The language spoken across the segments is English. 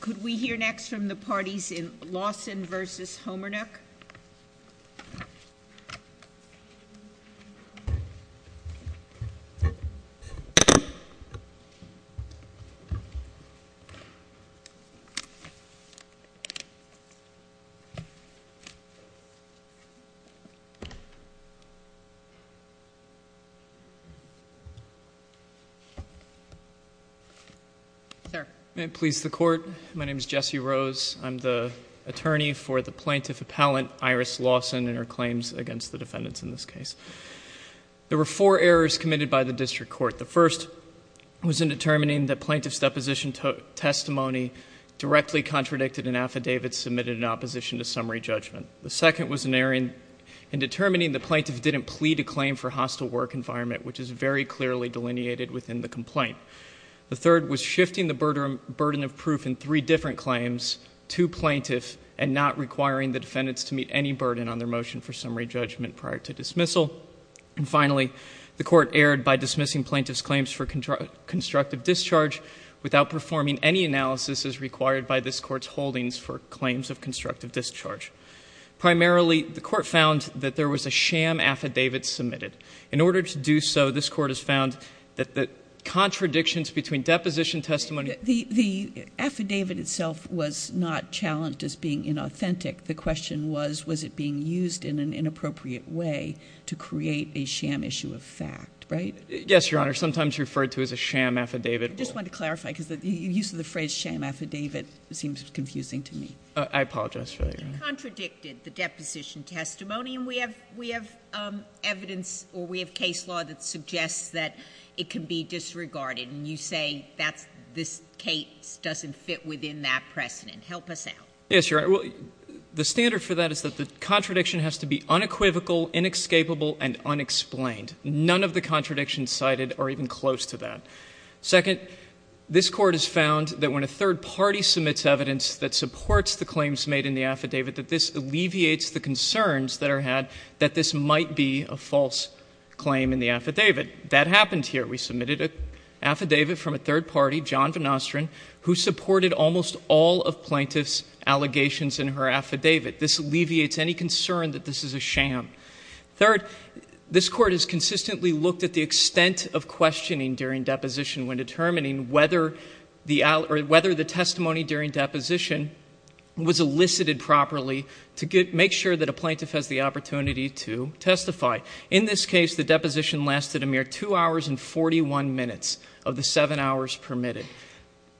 Could we hear next from the parties in Lawson v. Homernick? May it please the Court. My name is Jesse Rose. I'm the attorney for the Plaintiff Appellant Iris Lawson and her claims against the defendants in this case. There were four errors committed by the District Court. The first was in determining that Plaintiff's deposition testimony directly contradicted an affidavit submitted in opposition to summary judgment. The second was an error in determining the Plaintiff didn't plead a claim for hostile work environment, which is very clearly delineated within the complaint. The third was shifting the burden of proof in three different claims to Plaintiff and not requiring the defendants to meet any burden on their motion for summary judgment prior to dismissal. And finally, the Court erred by dismissing Plaintiff's claims for constructive discharge without performing any analysis as required by this Court's holdings for claims of constructive discharge. Primarily, the Court found that there was a sham affidavit submitted. In order to do so, this Court has found that the contradictions between deposition testimony The affidavit itself was not challenged as being inauthentic. The question was, was it being used in an inappropriate way to create a sham issue of fact, right? Yes, Your Honor. Sometimes referred to as a sham affidavit. I just want to clarify because the use of the phrase sham affidavit seems confusing to me. I apologize for that, Your Honor. You contradicted the deposition testimony and we have evidence or we have case law that suggests that it can be disregarded. And you say this case doesn't fit within that precedent. Help us out. Yes, Your Honor. The standard for that is that the contradiction has to be unequivocal, inescapable, and unexplained. None of the contradictions cited are even close to that. Second, this Court has found that when a third party submits evidence that supports the claims made in the affidavit, that this alleviates the concerns that are had that this might be a false claim in the affidavit. That happened here. We submitted an affidavit from a third party, John Van Ostrand, who supported almost all of plaintiff's allegations in her affidavit. This alleviates any concern that this is a sham. Third, this Court has consistently looked at the extent of questioning during deposition when determining whether the testimony during deposition was elicited properly to make sure that a plaintiff has the opportunity to testify. In this case, the deposition lasted a mere 2 hours and 41 minutes of the 7 hours permitted.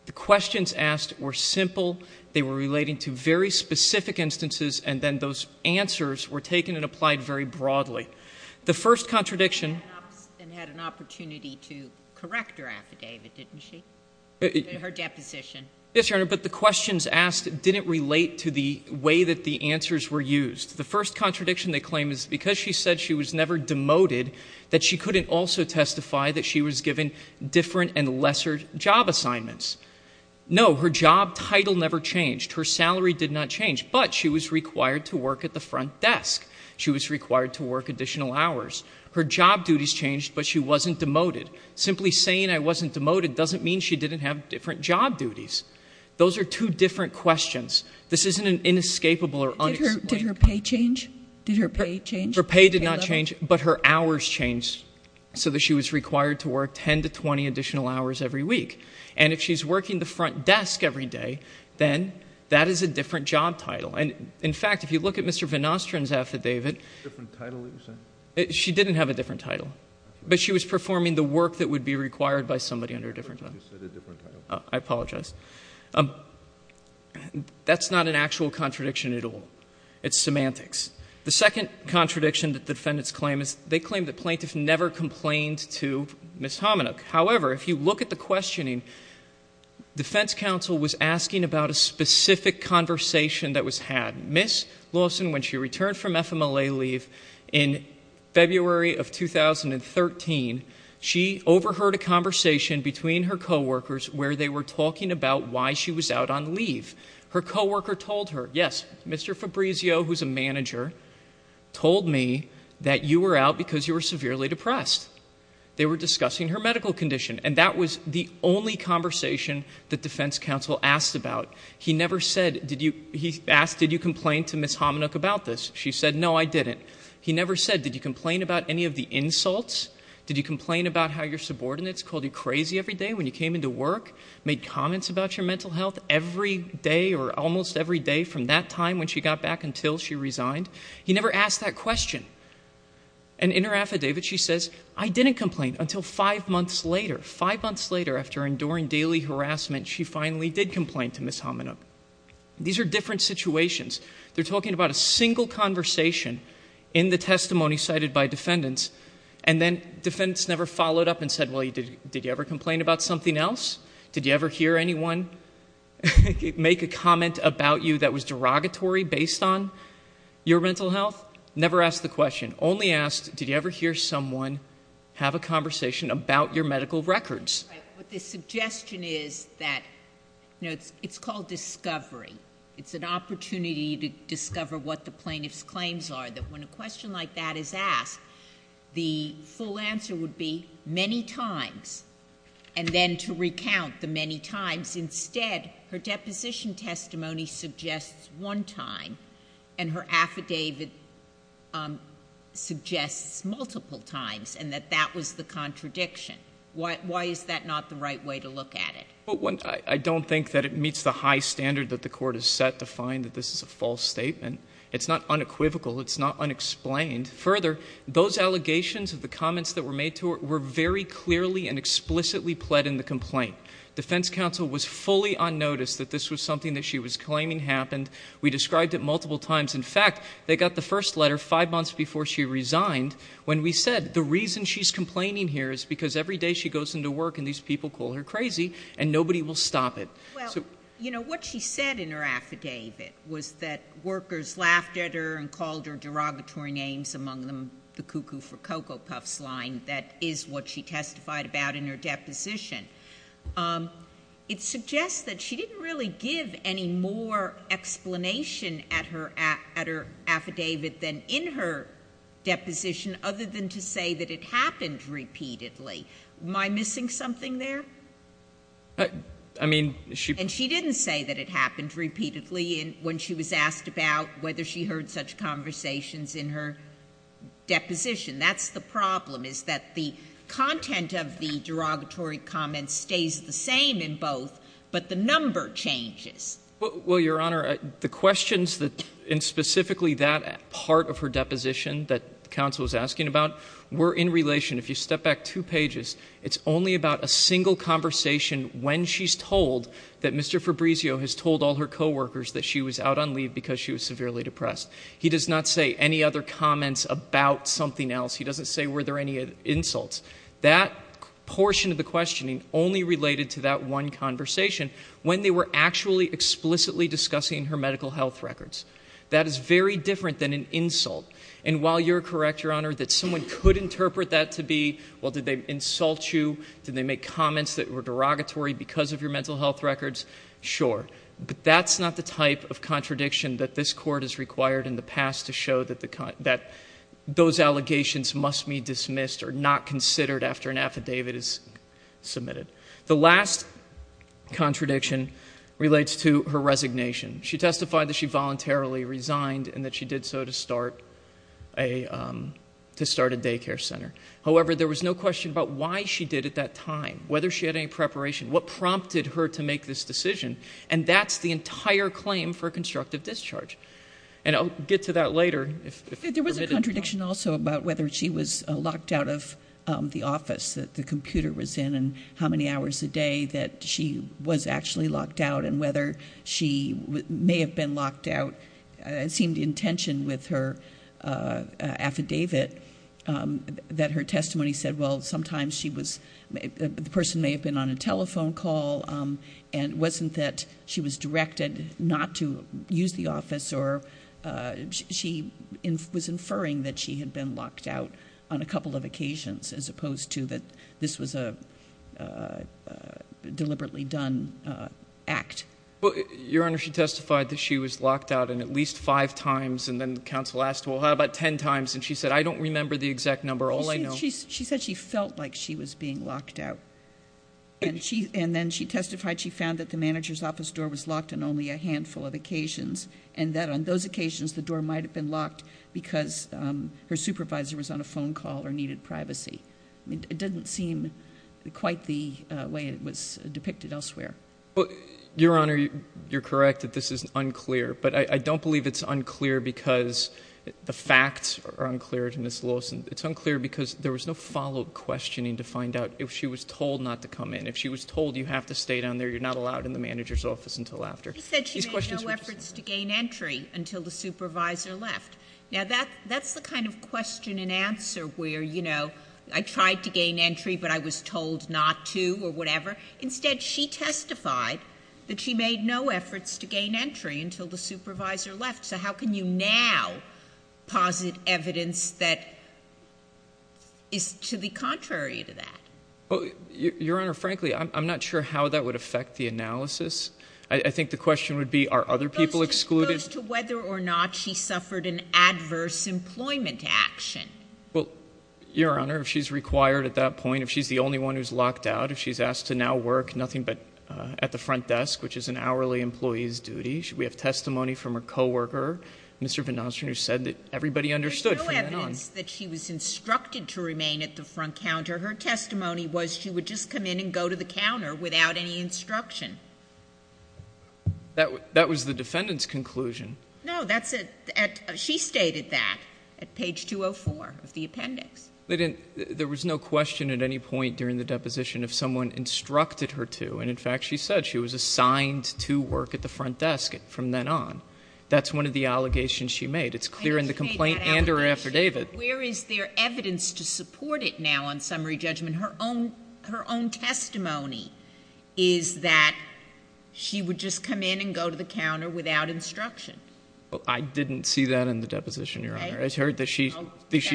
The questions asked were simple. They were relating to very specific instances, and then those answers were taken and applied very broadly. The first contradiction... And had an opportunity to correct her affidavit, didn't she? Her deposition. Yes, Your Honor, but the questions asked didn't relate to the way that the answers were used. The first contradiction they claim is because she said she was never demoted, that she couldn't also testify that she was given different and lesser job assignments. No, her job title never changed. Her salary did not change, but she was required to work at the front desk. She was required to work additional hours. Her job duties changed, but she wasn't demoted. Simply saying I wasn't demoted doesn't mean she didn't have different job duties. Those are two different questions. This isn't an inescapable or unexplained... Did her pay change? Her pay did not change, but her hours changed so that she was required to work 10 to 20 additional hours every week. And if she's working the front desk every day, then that is a different job title. And, in fact, if you look at Mr. VanOstrand's affidavit... Different title, you're saying? She didn't have a different title, but she was performing the work that would be required by somebody under a different title. I thought you said a different title. I apologize. That's not an actual contradiction at all. It's semantics. The second contradiction that the defendants claim is they claim the plaintiff never complained to Ms. Hominuk. However, if you look at the questioning, defense counsel was asking about a specific conversation that was had. Ms. Lawson, when she returned from FMLA leave in February of 2013, she overheard a conversation between her coworkers where they were talking about why she was out on leave. Her coworker told her, yes, Mr. Fabrizio, who's a manager, told me that you were out because you were severely depressed. They were discussing her medical condition, and that was the only conversation that defense counsel asked about. He never said, he asked, did you complain to Ms. Hominuk about this? She said, no, I didn't. He never said, did you complain about any of the insults? Did you complain about how your subordinates called you crazy every day when you came into work, made comments about your mental health every day or almost every day from that time when she got back until she resigned? He never asked that question. And in her affidavit, she says, I didn't complain until five months later. Five months later, after enduring daily harassment, she finally did complain to Ms. Hominuk. These are different situations. They're talking about a single conversation in the testimony cited by defendants, and then defendants never followed up and said, well, did you ever complain about something else? Did you ever hear anyone make a comment about you that was derogatory based on your mental health? Never asked the question. Only asked, did you ever hear someone have a conversation about your medical records? But the suggestion is that, you know, it's called discovery. It's an opportunity to discover what the plaintiff's claims are, that when a question like that is asked, the full answer would be many times, and then to recount the many times. Instead, her deposition testimony suggests one time, and her affidavit suggests multiple times, and that that was the contradiction. Why is that not the right way to look at it? I don't think that it meets the high standard that the Court has set to find that this is a false statement. It's not unequivocal. It's not unexplained. Further, those allegations of the comments that were made to her were very clearly and explicitly pled in the complaint. Defense counsel was fully on notice that this was something that she was claiming happened. We described it multiple times. In fact, they got the first letter five months before she resigned, when we said the reason she's complaining here is because every day she goes into work and these people call her crazy and nobody will stop it. Well, you know, what she said in her affidavit was that workers laughed at her and called her derogatory names, among them the cuckoo for Cocoa Puffs line. That is what she testified about in her deposition. It suggests that she didn't really give any more explanation at her affidavit than in her deposition, other than to say that it happened repeatedly. Am I missing something there? I mean, she... And she didn't say that it happened repeatedly when she was asked about whether she heard such conversations in her deposition. That's the problem, is that the content of the derogatory comments stays the same in both, but the number changes. Well, Your Honor, the questions in specifically that part of her deposition that counsel was asking about were in relation. If you step back two pages, it's only about a single conversation when she's told that Mr. Fabrizio has told all her coworkers that she was out on leave because she was severely depressed. He does not say any other comments about something else. He doesn't say were there any insults. That portion of the questioning only related to that one conversation when they were actually explicitly discussing her medical health records. That is very different than an insult. And while you're correct, Your Honor, that someone could interpret that to be, well, did they insult you? Did they make comments that were derogatory because of your mental health records? Sure, but that's not the type of contradiction that this court has required in the past to show that those allegations must be dismissed or not considered after an affidavit is submitted. The last contradiction relates to her resignation. She testified that she voluntarily resigned and that she did so to start a daycare center. However, there was no question about why she did it at that time, whether she had any preparation, what prompted her to make this decision, and that's the entire claim for constructive discharge. And I'll get to that later. There was a contradiction also about whether she was locked out of the office that the computer was in and how many hours a day that she was actually locked out and whether she may have been locked out, it seemed in tension with her affidavit, that her testimony said, well, sometimes the person may have been on a telephone call and it wasn't that she was directed not to use the office or she was inferring that she had been locked out on a couple of occasions as opposed to that this was a deliberately done act. Your Honor, she testified that she was locked out at least five times and then counsel asked, well, how about ten times? And she said, I don't remember the exact number, all I know. She said she felt like she was being locked out. And then she testified she found that the manager's office door was locked on only a handful of occasions and that on those occasions the door might have been locked because her supervisor was on a phone call or needed privacy. It didn't seem quite the way it was depicted elsewhere. Your Honor, you're correct that this is unclear, but I don't believe it's unclear because the facts are unclear to Ms. Lewis. It's unclear because there was no follow-up questioning to find out if she was told not to come in. If she was told you have to stay down there, you're not allowed in the manager's office until after. She said she made no efforts to gain entry until the supervisor left. Now, that's the kind of question and answer where, you know, I tried to gain entry but I was told not to or whatever. Instead, she testified that she made no efforts to gain entry until the supervisor left. So how can you now posit evidence that is to the contrary to that? Your Honor, frankly, I'm not sure how that would affect the analysis. I think the question would be are other people excluded? It goes to whether or not she suffered an adverse employment action. Well, Your Honor, if she's required at that point, if she's the only one who's locked out, if she's asked to now work nothing but at the front desk, which is an hourly employee's duty, should we have testimony from her coworker? Mr. VanOstrander said that everybody understood from then on. There's no evidence that she was instructed to remain at the front counter. Her testimony was she would just come in and go to the counter without any instruction. That was the defendant's conclusion. No, that's a — she stated that at page 204 of the appendix. There was no question at any point during the deposition of someone instructed her to. And, in fact, she said she was assigned to work at the front desk from then on. That's one of the allegations she made. It's clear in the complaint and her affidavit. Where is there evidence to support it now on summary judgment? Her own testimony is that she would just come in and go to the counter without instruction. I didn't see that in the deposition, Your Honor. I heard that she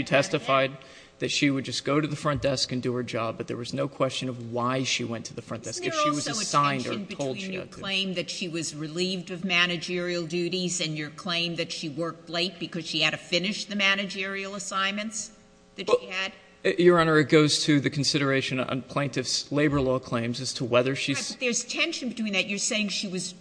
testified that she would just go to the front desk and do her job, but there was no question of why she went to the front desk. If she was assigned or told she had to. Is there also a tension between your claim that she was relieved of managerial duties and your claim that she worked late because she had to finish the managerial assignments that she had? Your Honor, it goes to the consideration on plaintiff's labor law claims as to whether she's — But there's tension between that. You're saying she was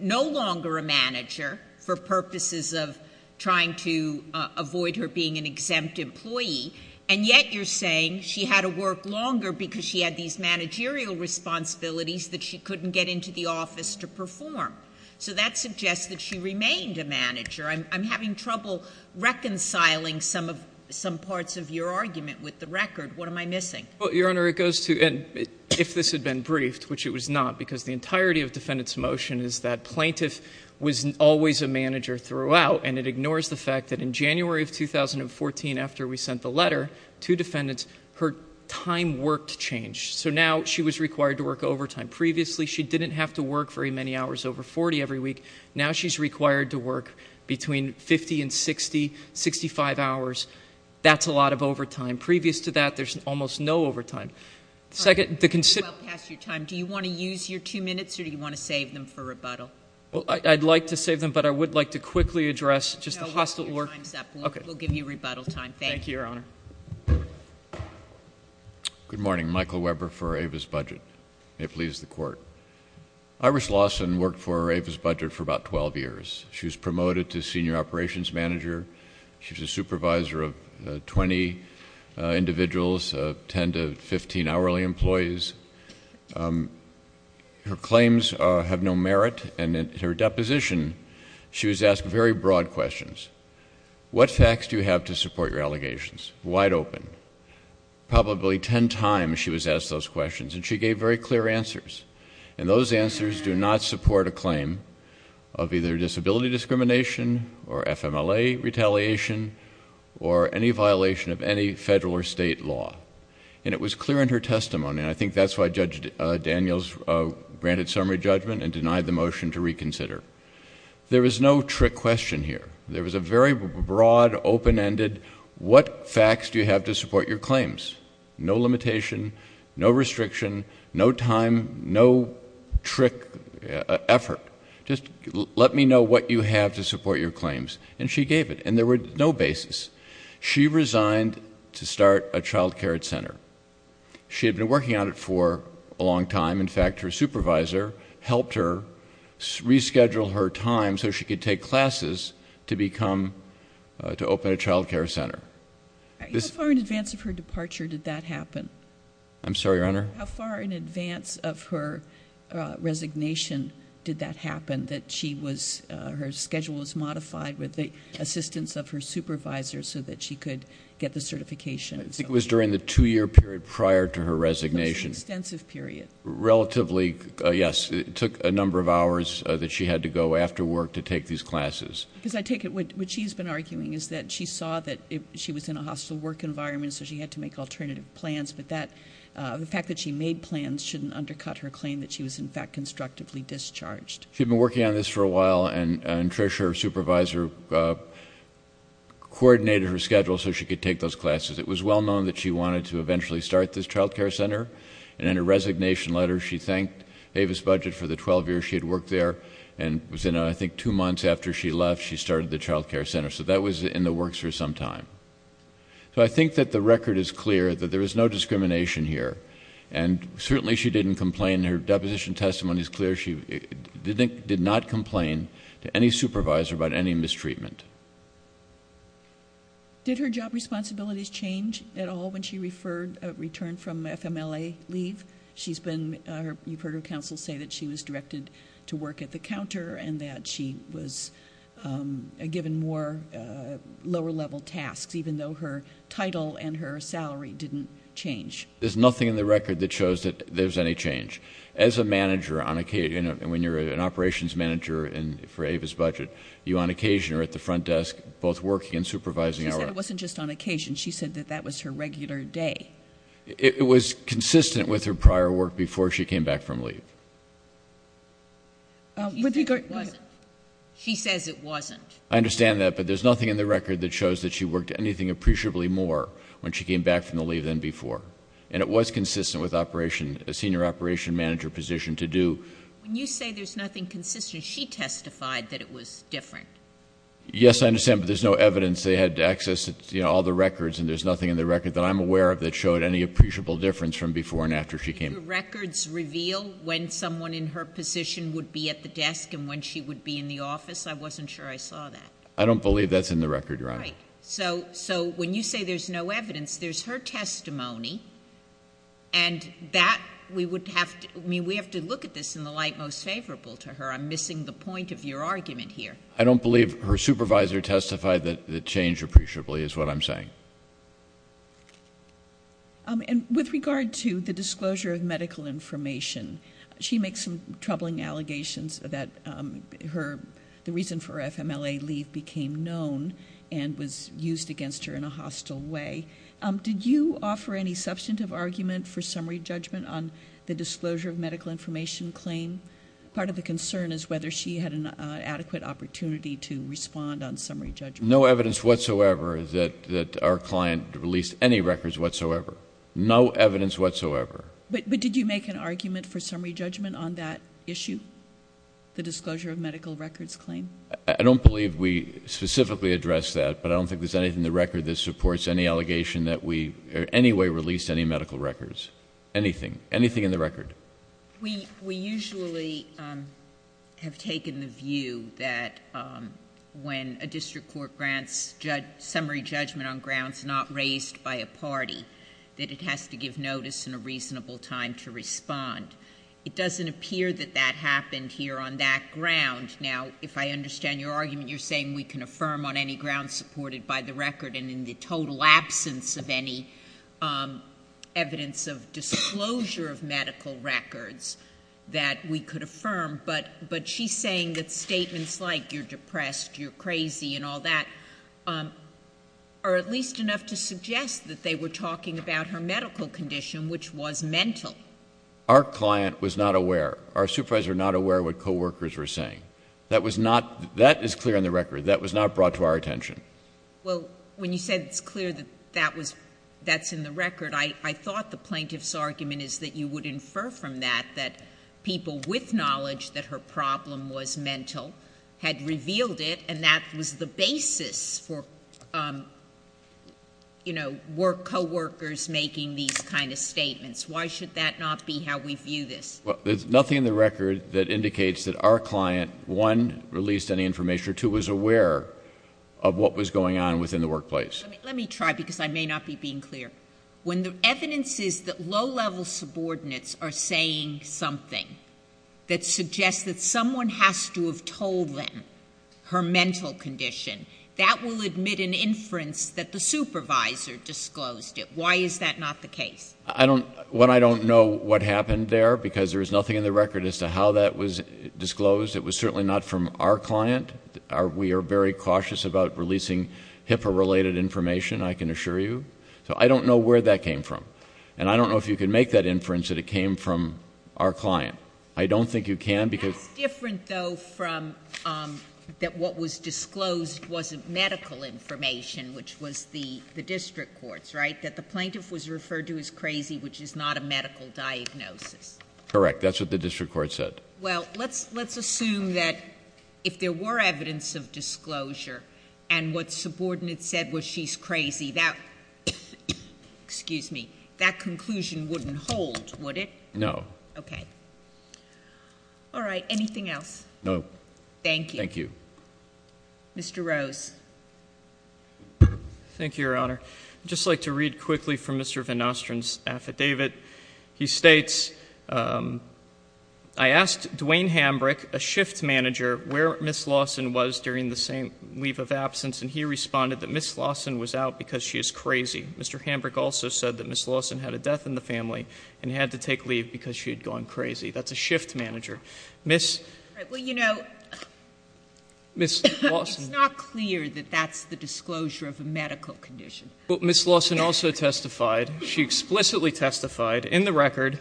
no longer a manager for purposes of trying to avoid her being an exempt employee, and yet you're saying she had to work longer because she had these managerial responsibilities that she couldn't get into the office to perform. So that suggests that she remained a manager. I'm having trouble reconciling some parts of your argument with the record. What am I missing? Well, Your Honor, it goes to — and if this had been briefed, which it was not, because the entirety of defendant's motion is that plaintiff was always a manager throughout, and it ignores the fact that in January of 2014, after we sent the letter to defendants, her time worked changed. So now she was required to work overtime. Previously, she didn't have to work very many hours, over 40 every week. Now she's required to work between 50 and 60, 65 hours. That's a lot of overtime. That's a lot of overtime. Previous to that, there's almost no overtime. All right. You're well past your time. Do you want to use your two minutes, or do you want to save them for rebuttal? Well, I'd like to save them, but I would like to quickly address just the hostile work... No. Your time's up. Okay. We'll give you rebuttal time. Thank you. Thank you, Your Honor. Good morning. Michael Weber for Ava's Budget. May it please the Court. Iris Lawson worked for Ava's Budget for about 12 years. She was promoted to senior operations manager. She was a supervisor of 20 individuals, 10 to 15 hourly employees. Her claims have no merit, and in her deposition, she was asked very broad questions. What facts do you have to support your allegations? Wide open. Probably 10 times, she was asked those questions, and she gave very clear answers. And, those answers do not support a claim of either disability discrimination, or FMLA retaliation, or any violation of any federal or state law. And, it was clear in her testimony, and I think that's why Judge Daniels granted summary judgment and denied the motion to reconsider. There was no trick question here. There was a very broad, open-ended, what facts do you have to support your claims? No limitation, no restriction, no time, no trick effort. Just let me know what you have to support your claims. And, she gave it, and there were no bases. She resigned to start a child care center. She had been working on it for a long time. In fact, her supervisor helped her reschedule her time so she could take classes to open a child care center. How far in advance of her departure did that happen? I'm sorry, Your Honor? How far in advance of her resignation did that happen, that she was, her schedule was modified with the assistance of her supervisor so that she could get the certification? I think it was during the two-year period prior to her resignation. It was an extensive period. Relatively, yes. It took a number of hours that she had to go after work to take these classes. Because I take it, what she's been arguing is that she saw that she was in a hostile work environment, so she had to make alternative plans, but the fact that she made plans shouldn't undercut her claim that she was, in fact, constructively discharged. She'd been working on this for a while, and Trish, her supervisor, coordinated her schedule so she could take those classes. It was well known that she wanted to eventually start this child care center, and in her resignation letter, she thanked Avis Budget for the 12 years she had worked there. And it was in, I think, two months after she left, she started the child care center. So that was in the works for some time. So I think that the record is clear that there is no discrimination here, and certainly she didn't complain. Her deposition testimony is clear. She did not complain to any supervisor about any mistreatment. Did her job responsibilities change at all when she returned from FMLA leave? You've heard her counsel say that she was directed to work at the counter and that she was given more lower-level tasks, even though her title and her salary didn't change. There's nothing in the record that shows that there's any change. As a manager on occasion, when you're an operations manager for Avis Budget, you on occasion are at the front desk both working and supervising. She said it wasn't just on occasion. She said that that was her regular day. It was consistent with her prior work before she came back from leave. She says it wasn't. I understand that, but there's nothing in the record that shows that she worked anything appreciably more when she came back from the leave than before. And it was consistent with a senior operation manager position to do. When you say there's nothing consistent, she testified that it was different. Yes, I understand, but there's no evidence. They had access to all the records, and there's nothing in the record that I'm aware of that showed any appreciable difference from before and after she came. Did the records reveal when someone in her position would be at the desk and when she would be in the office? I wasn't sure I saw that. I don't believe that's in the record, Your Honor. Right. So when you say there's no evidence, there's her testimony, and that we would have to look at this in the light most favorable to her. I'm missing the point of your argument here. I don't believe her supervisor testified that it changed appreciably is what I'm saying. And with regard to the disclosure of medical information, she makes some troubling allegations that the reason for her FMLA leave became known and was used against her in a hostile way. Did you offer any substantive argument for summary judgment on the disclosure of medical information claim? Part of the concern is whether she had an adequate opportunity to respond on summary judgment. No evidence whatsoever that our client released any records whatsoever. No evidence whatsoever. But did you make an argument for summary judgment on that issue, the disclosure of medical records claim? I don't believe we specifically addressed that, but I don't think there's anything in the record that supports any allegation that we in any way released any medical records. Anything. Anything in the record. We usually have taken the view that when a district court grants summary judgment on grounds not raised by a party, that it has to give notice and a reasonable time to respond. It doesn't appear that that happened here on that ground. Now, if I understand your argument, you're saying we can affirm on any grounds supported by the record and in the total absence of any evidence of disclosure of medical records that we could affirm, but she's saying that statements like you're depressed, you're crazy, and all that, are at least enough to suggest that they were talking about her medical condition, which was mental. Our client was not aware. Our supervisors were not aware of what coworkers were saying. That is clear in the record. That was not brought to our attention. Well, when you said it's clear that that's in the record, I thought the plaintiff's argument is that you would infer from that that people with knowledge that her problem was mental had revealed it, and that was the basis for coworkers making these kind of statements. Why should that not be how we view this? Well, there's nothing in the record that indicates that our client, one, released any information, or two, was aware of what was going on within the workplace. Let me try, because I may not be being clear. When the evidence is that low-level subordinates are saying something that suggests that someone has to have told them her mental condition, that will admit an inference that the supervisor disclosed it. Why is that not the case? Well, I don't know what happened there, because there is nothing in the record as to how that was disclosed. It was certainly not from our client. We are very cautious about releasing HIPAA-related information, I can assure you. So I don't know where that came from, and I don't know if you can make that inference that it came from our client. I don't think you can, because— That's different, though, from that what was disclosed wasn't medical information, which was the district court's, right, that the plaintiff was referred to as crazy, which is not a medical diagnosis. Correct. That's what the district court said. Well, let's assume that if there were evidence of disclosure and what the subordinate said was she's crazy, that—excuse me—that conclusion wouldn't hold, would it? No. Okay. All right. Anything else? No. Thank you. Thank you. Mr. Rose. Thank you, Your Honor. I'd just like to read quickly from Mr. Van Ostrand's affidavit. He states, I asked Dwayne Hambrick, a shift manager, where Ms. Lawson was during the same leave of absence, and he responded that Ms. Lawson was out because she is crazy. Mr. Hambrick also said that Ms. Lawson had a death in the family and had to take leave because she had gone crazy. That's a shift manager. Ms.— All right. Well, you know— Ms. Lawson— It's not clear that that's the disclosure of a medical condition. But Ms. Lawson also testified. She explicitly testified in the record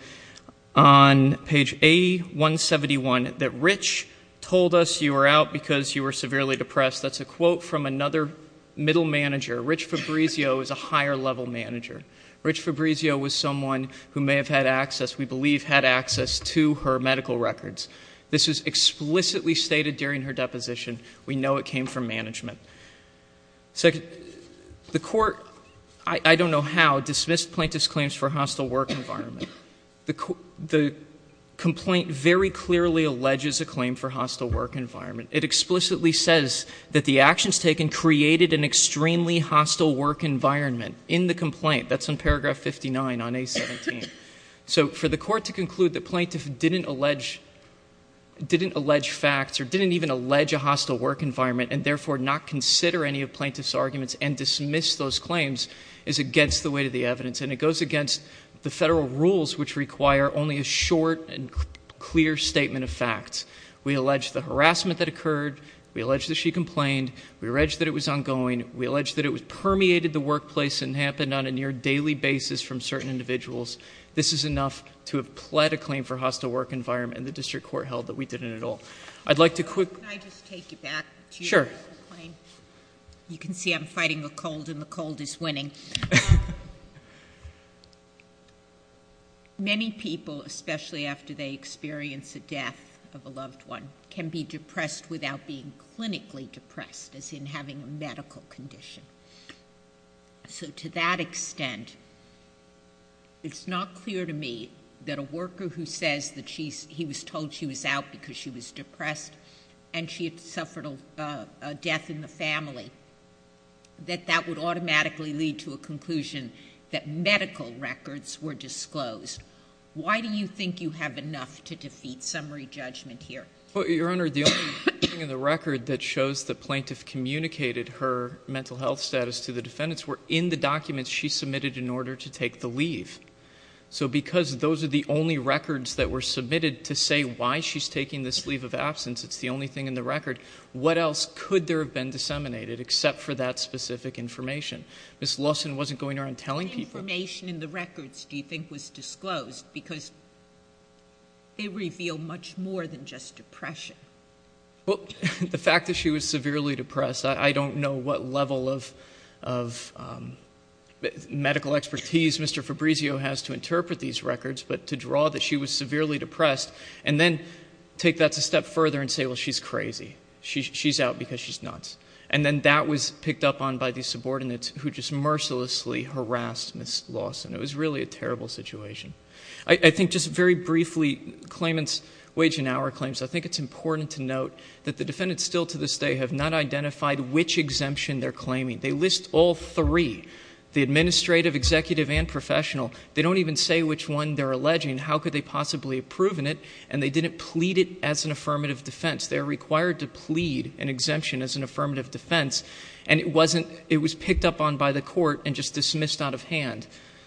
on page A-171 that Rich told us you were out because you were severely depressed. That's a quote from another middle manager. Rich Fabrizio is a higher-level manager. Rich Fabrizio was someone who may have had access, we believe had access, to her medical records. This was explicitly stated during her deposition. We know it came from management. The court, I don't know how, dismissed plaintiff's claims for hostile work environment. The complaint very clearly alleges a claim for hostile work environment. It explicitly says that the actions taken created an extremely hostile work environment in the complaint. That's in paragraph 59 on A-17. So for the court to conclude that plaintiff didn't allege facts or didn't even allege a hostile work environment and therefore not consider any of plaintiff's arguments and dismiss those claims is against the weight of the evidence. And it goes against the federal rules, which require only a short and clear statement of facts. We allege the harassment that occurred. We allege that she complained. We allege that it was ongoing. We allege that it permeated the workplace and happened on a near daily basis from certain individuals. This is enough to have pled a claim for hostile work environment, and the district court held that we didn't at all. I'd like to quickly- Can I just take you back to- Sure. You can see I'm fighting the cold, and the cold is winning. Many people, especially after they experience a death of a loved one, can be depressed without being clinically depressed, as in having a medical condition. So to that extent, it's not clear to me that a worker who says that he was told she was out because she was depressed and she had suffered a death in the family, that that would automatically lead to a conclusion that medical records were disclosed. Why do you think you have enough to defeat summary judgment here? Well, Your Honor, the only thing in the record that shows the plaintiff communicated her mental health status to the defendants were in the documents she submitted in order to take the leave. So because those are the only records that were submitted to say why she's taking this leave of absence, it's the only thing in the record, what else could there have been disseminated except for that specific information? Ms. Lawson wasn't going around telling people. What information in the records do you think was disclosed? Because they reveal much more than just depression. Well, the fact that she was severely depressed, I don't know what level of medical expertise Mr. Fabrizio has to interpret these records, but to draw that she was severely depressed and then take that a step further and say, well, she's crazy. She's out because she's nuts. And then that was picked up on by the subordinates who just mercilessly harassed Ms. Lawson. It was really a terrible situation. I think just very briefly, claimants' wage and hour claims, I think it's important to note that the defendants still to this day have not identified which exemption they're claiming. They list all three, the administrative, executive, and professional. They don't even say which one they're alleging. How could they possibly have proven it? And they didn't plead it as an affirmative defense. They're required to plead an exemption as an affirmative defense, and it was picked up on by the court and just dismissed out of hand.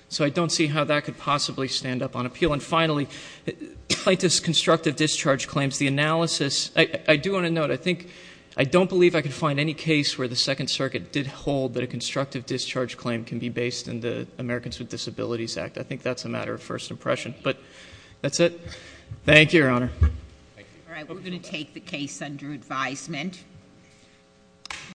So I don't see how that could possibly stand up on appeal. And finally, plaintiff's constructive discharge claims, the analysis, I do want to note, I don't believe I could find any case where the Second Circuit did hold that a constructive discharge claim can be based in the Americans with Disabilities Act. I think that's a matter of first impression. But that's it. Thank you, Your Honor. All right, we're going to take the case under advisement.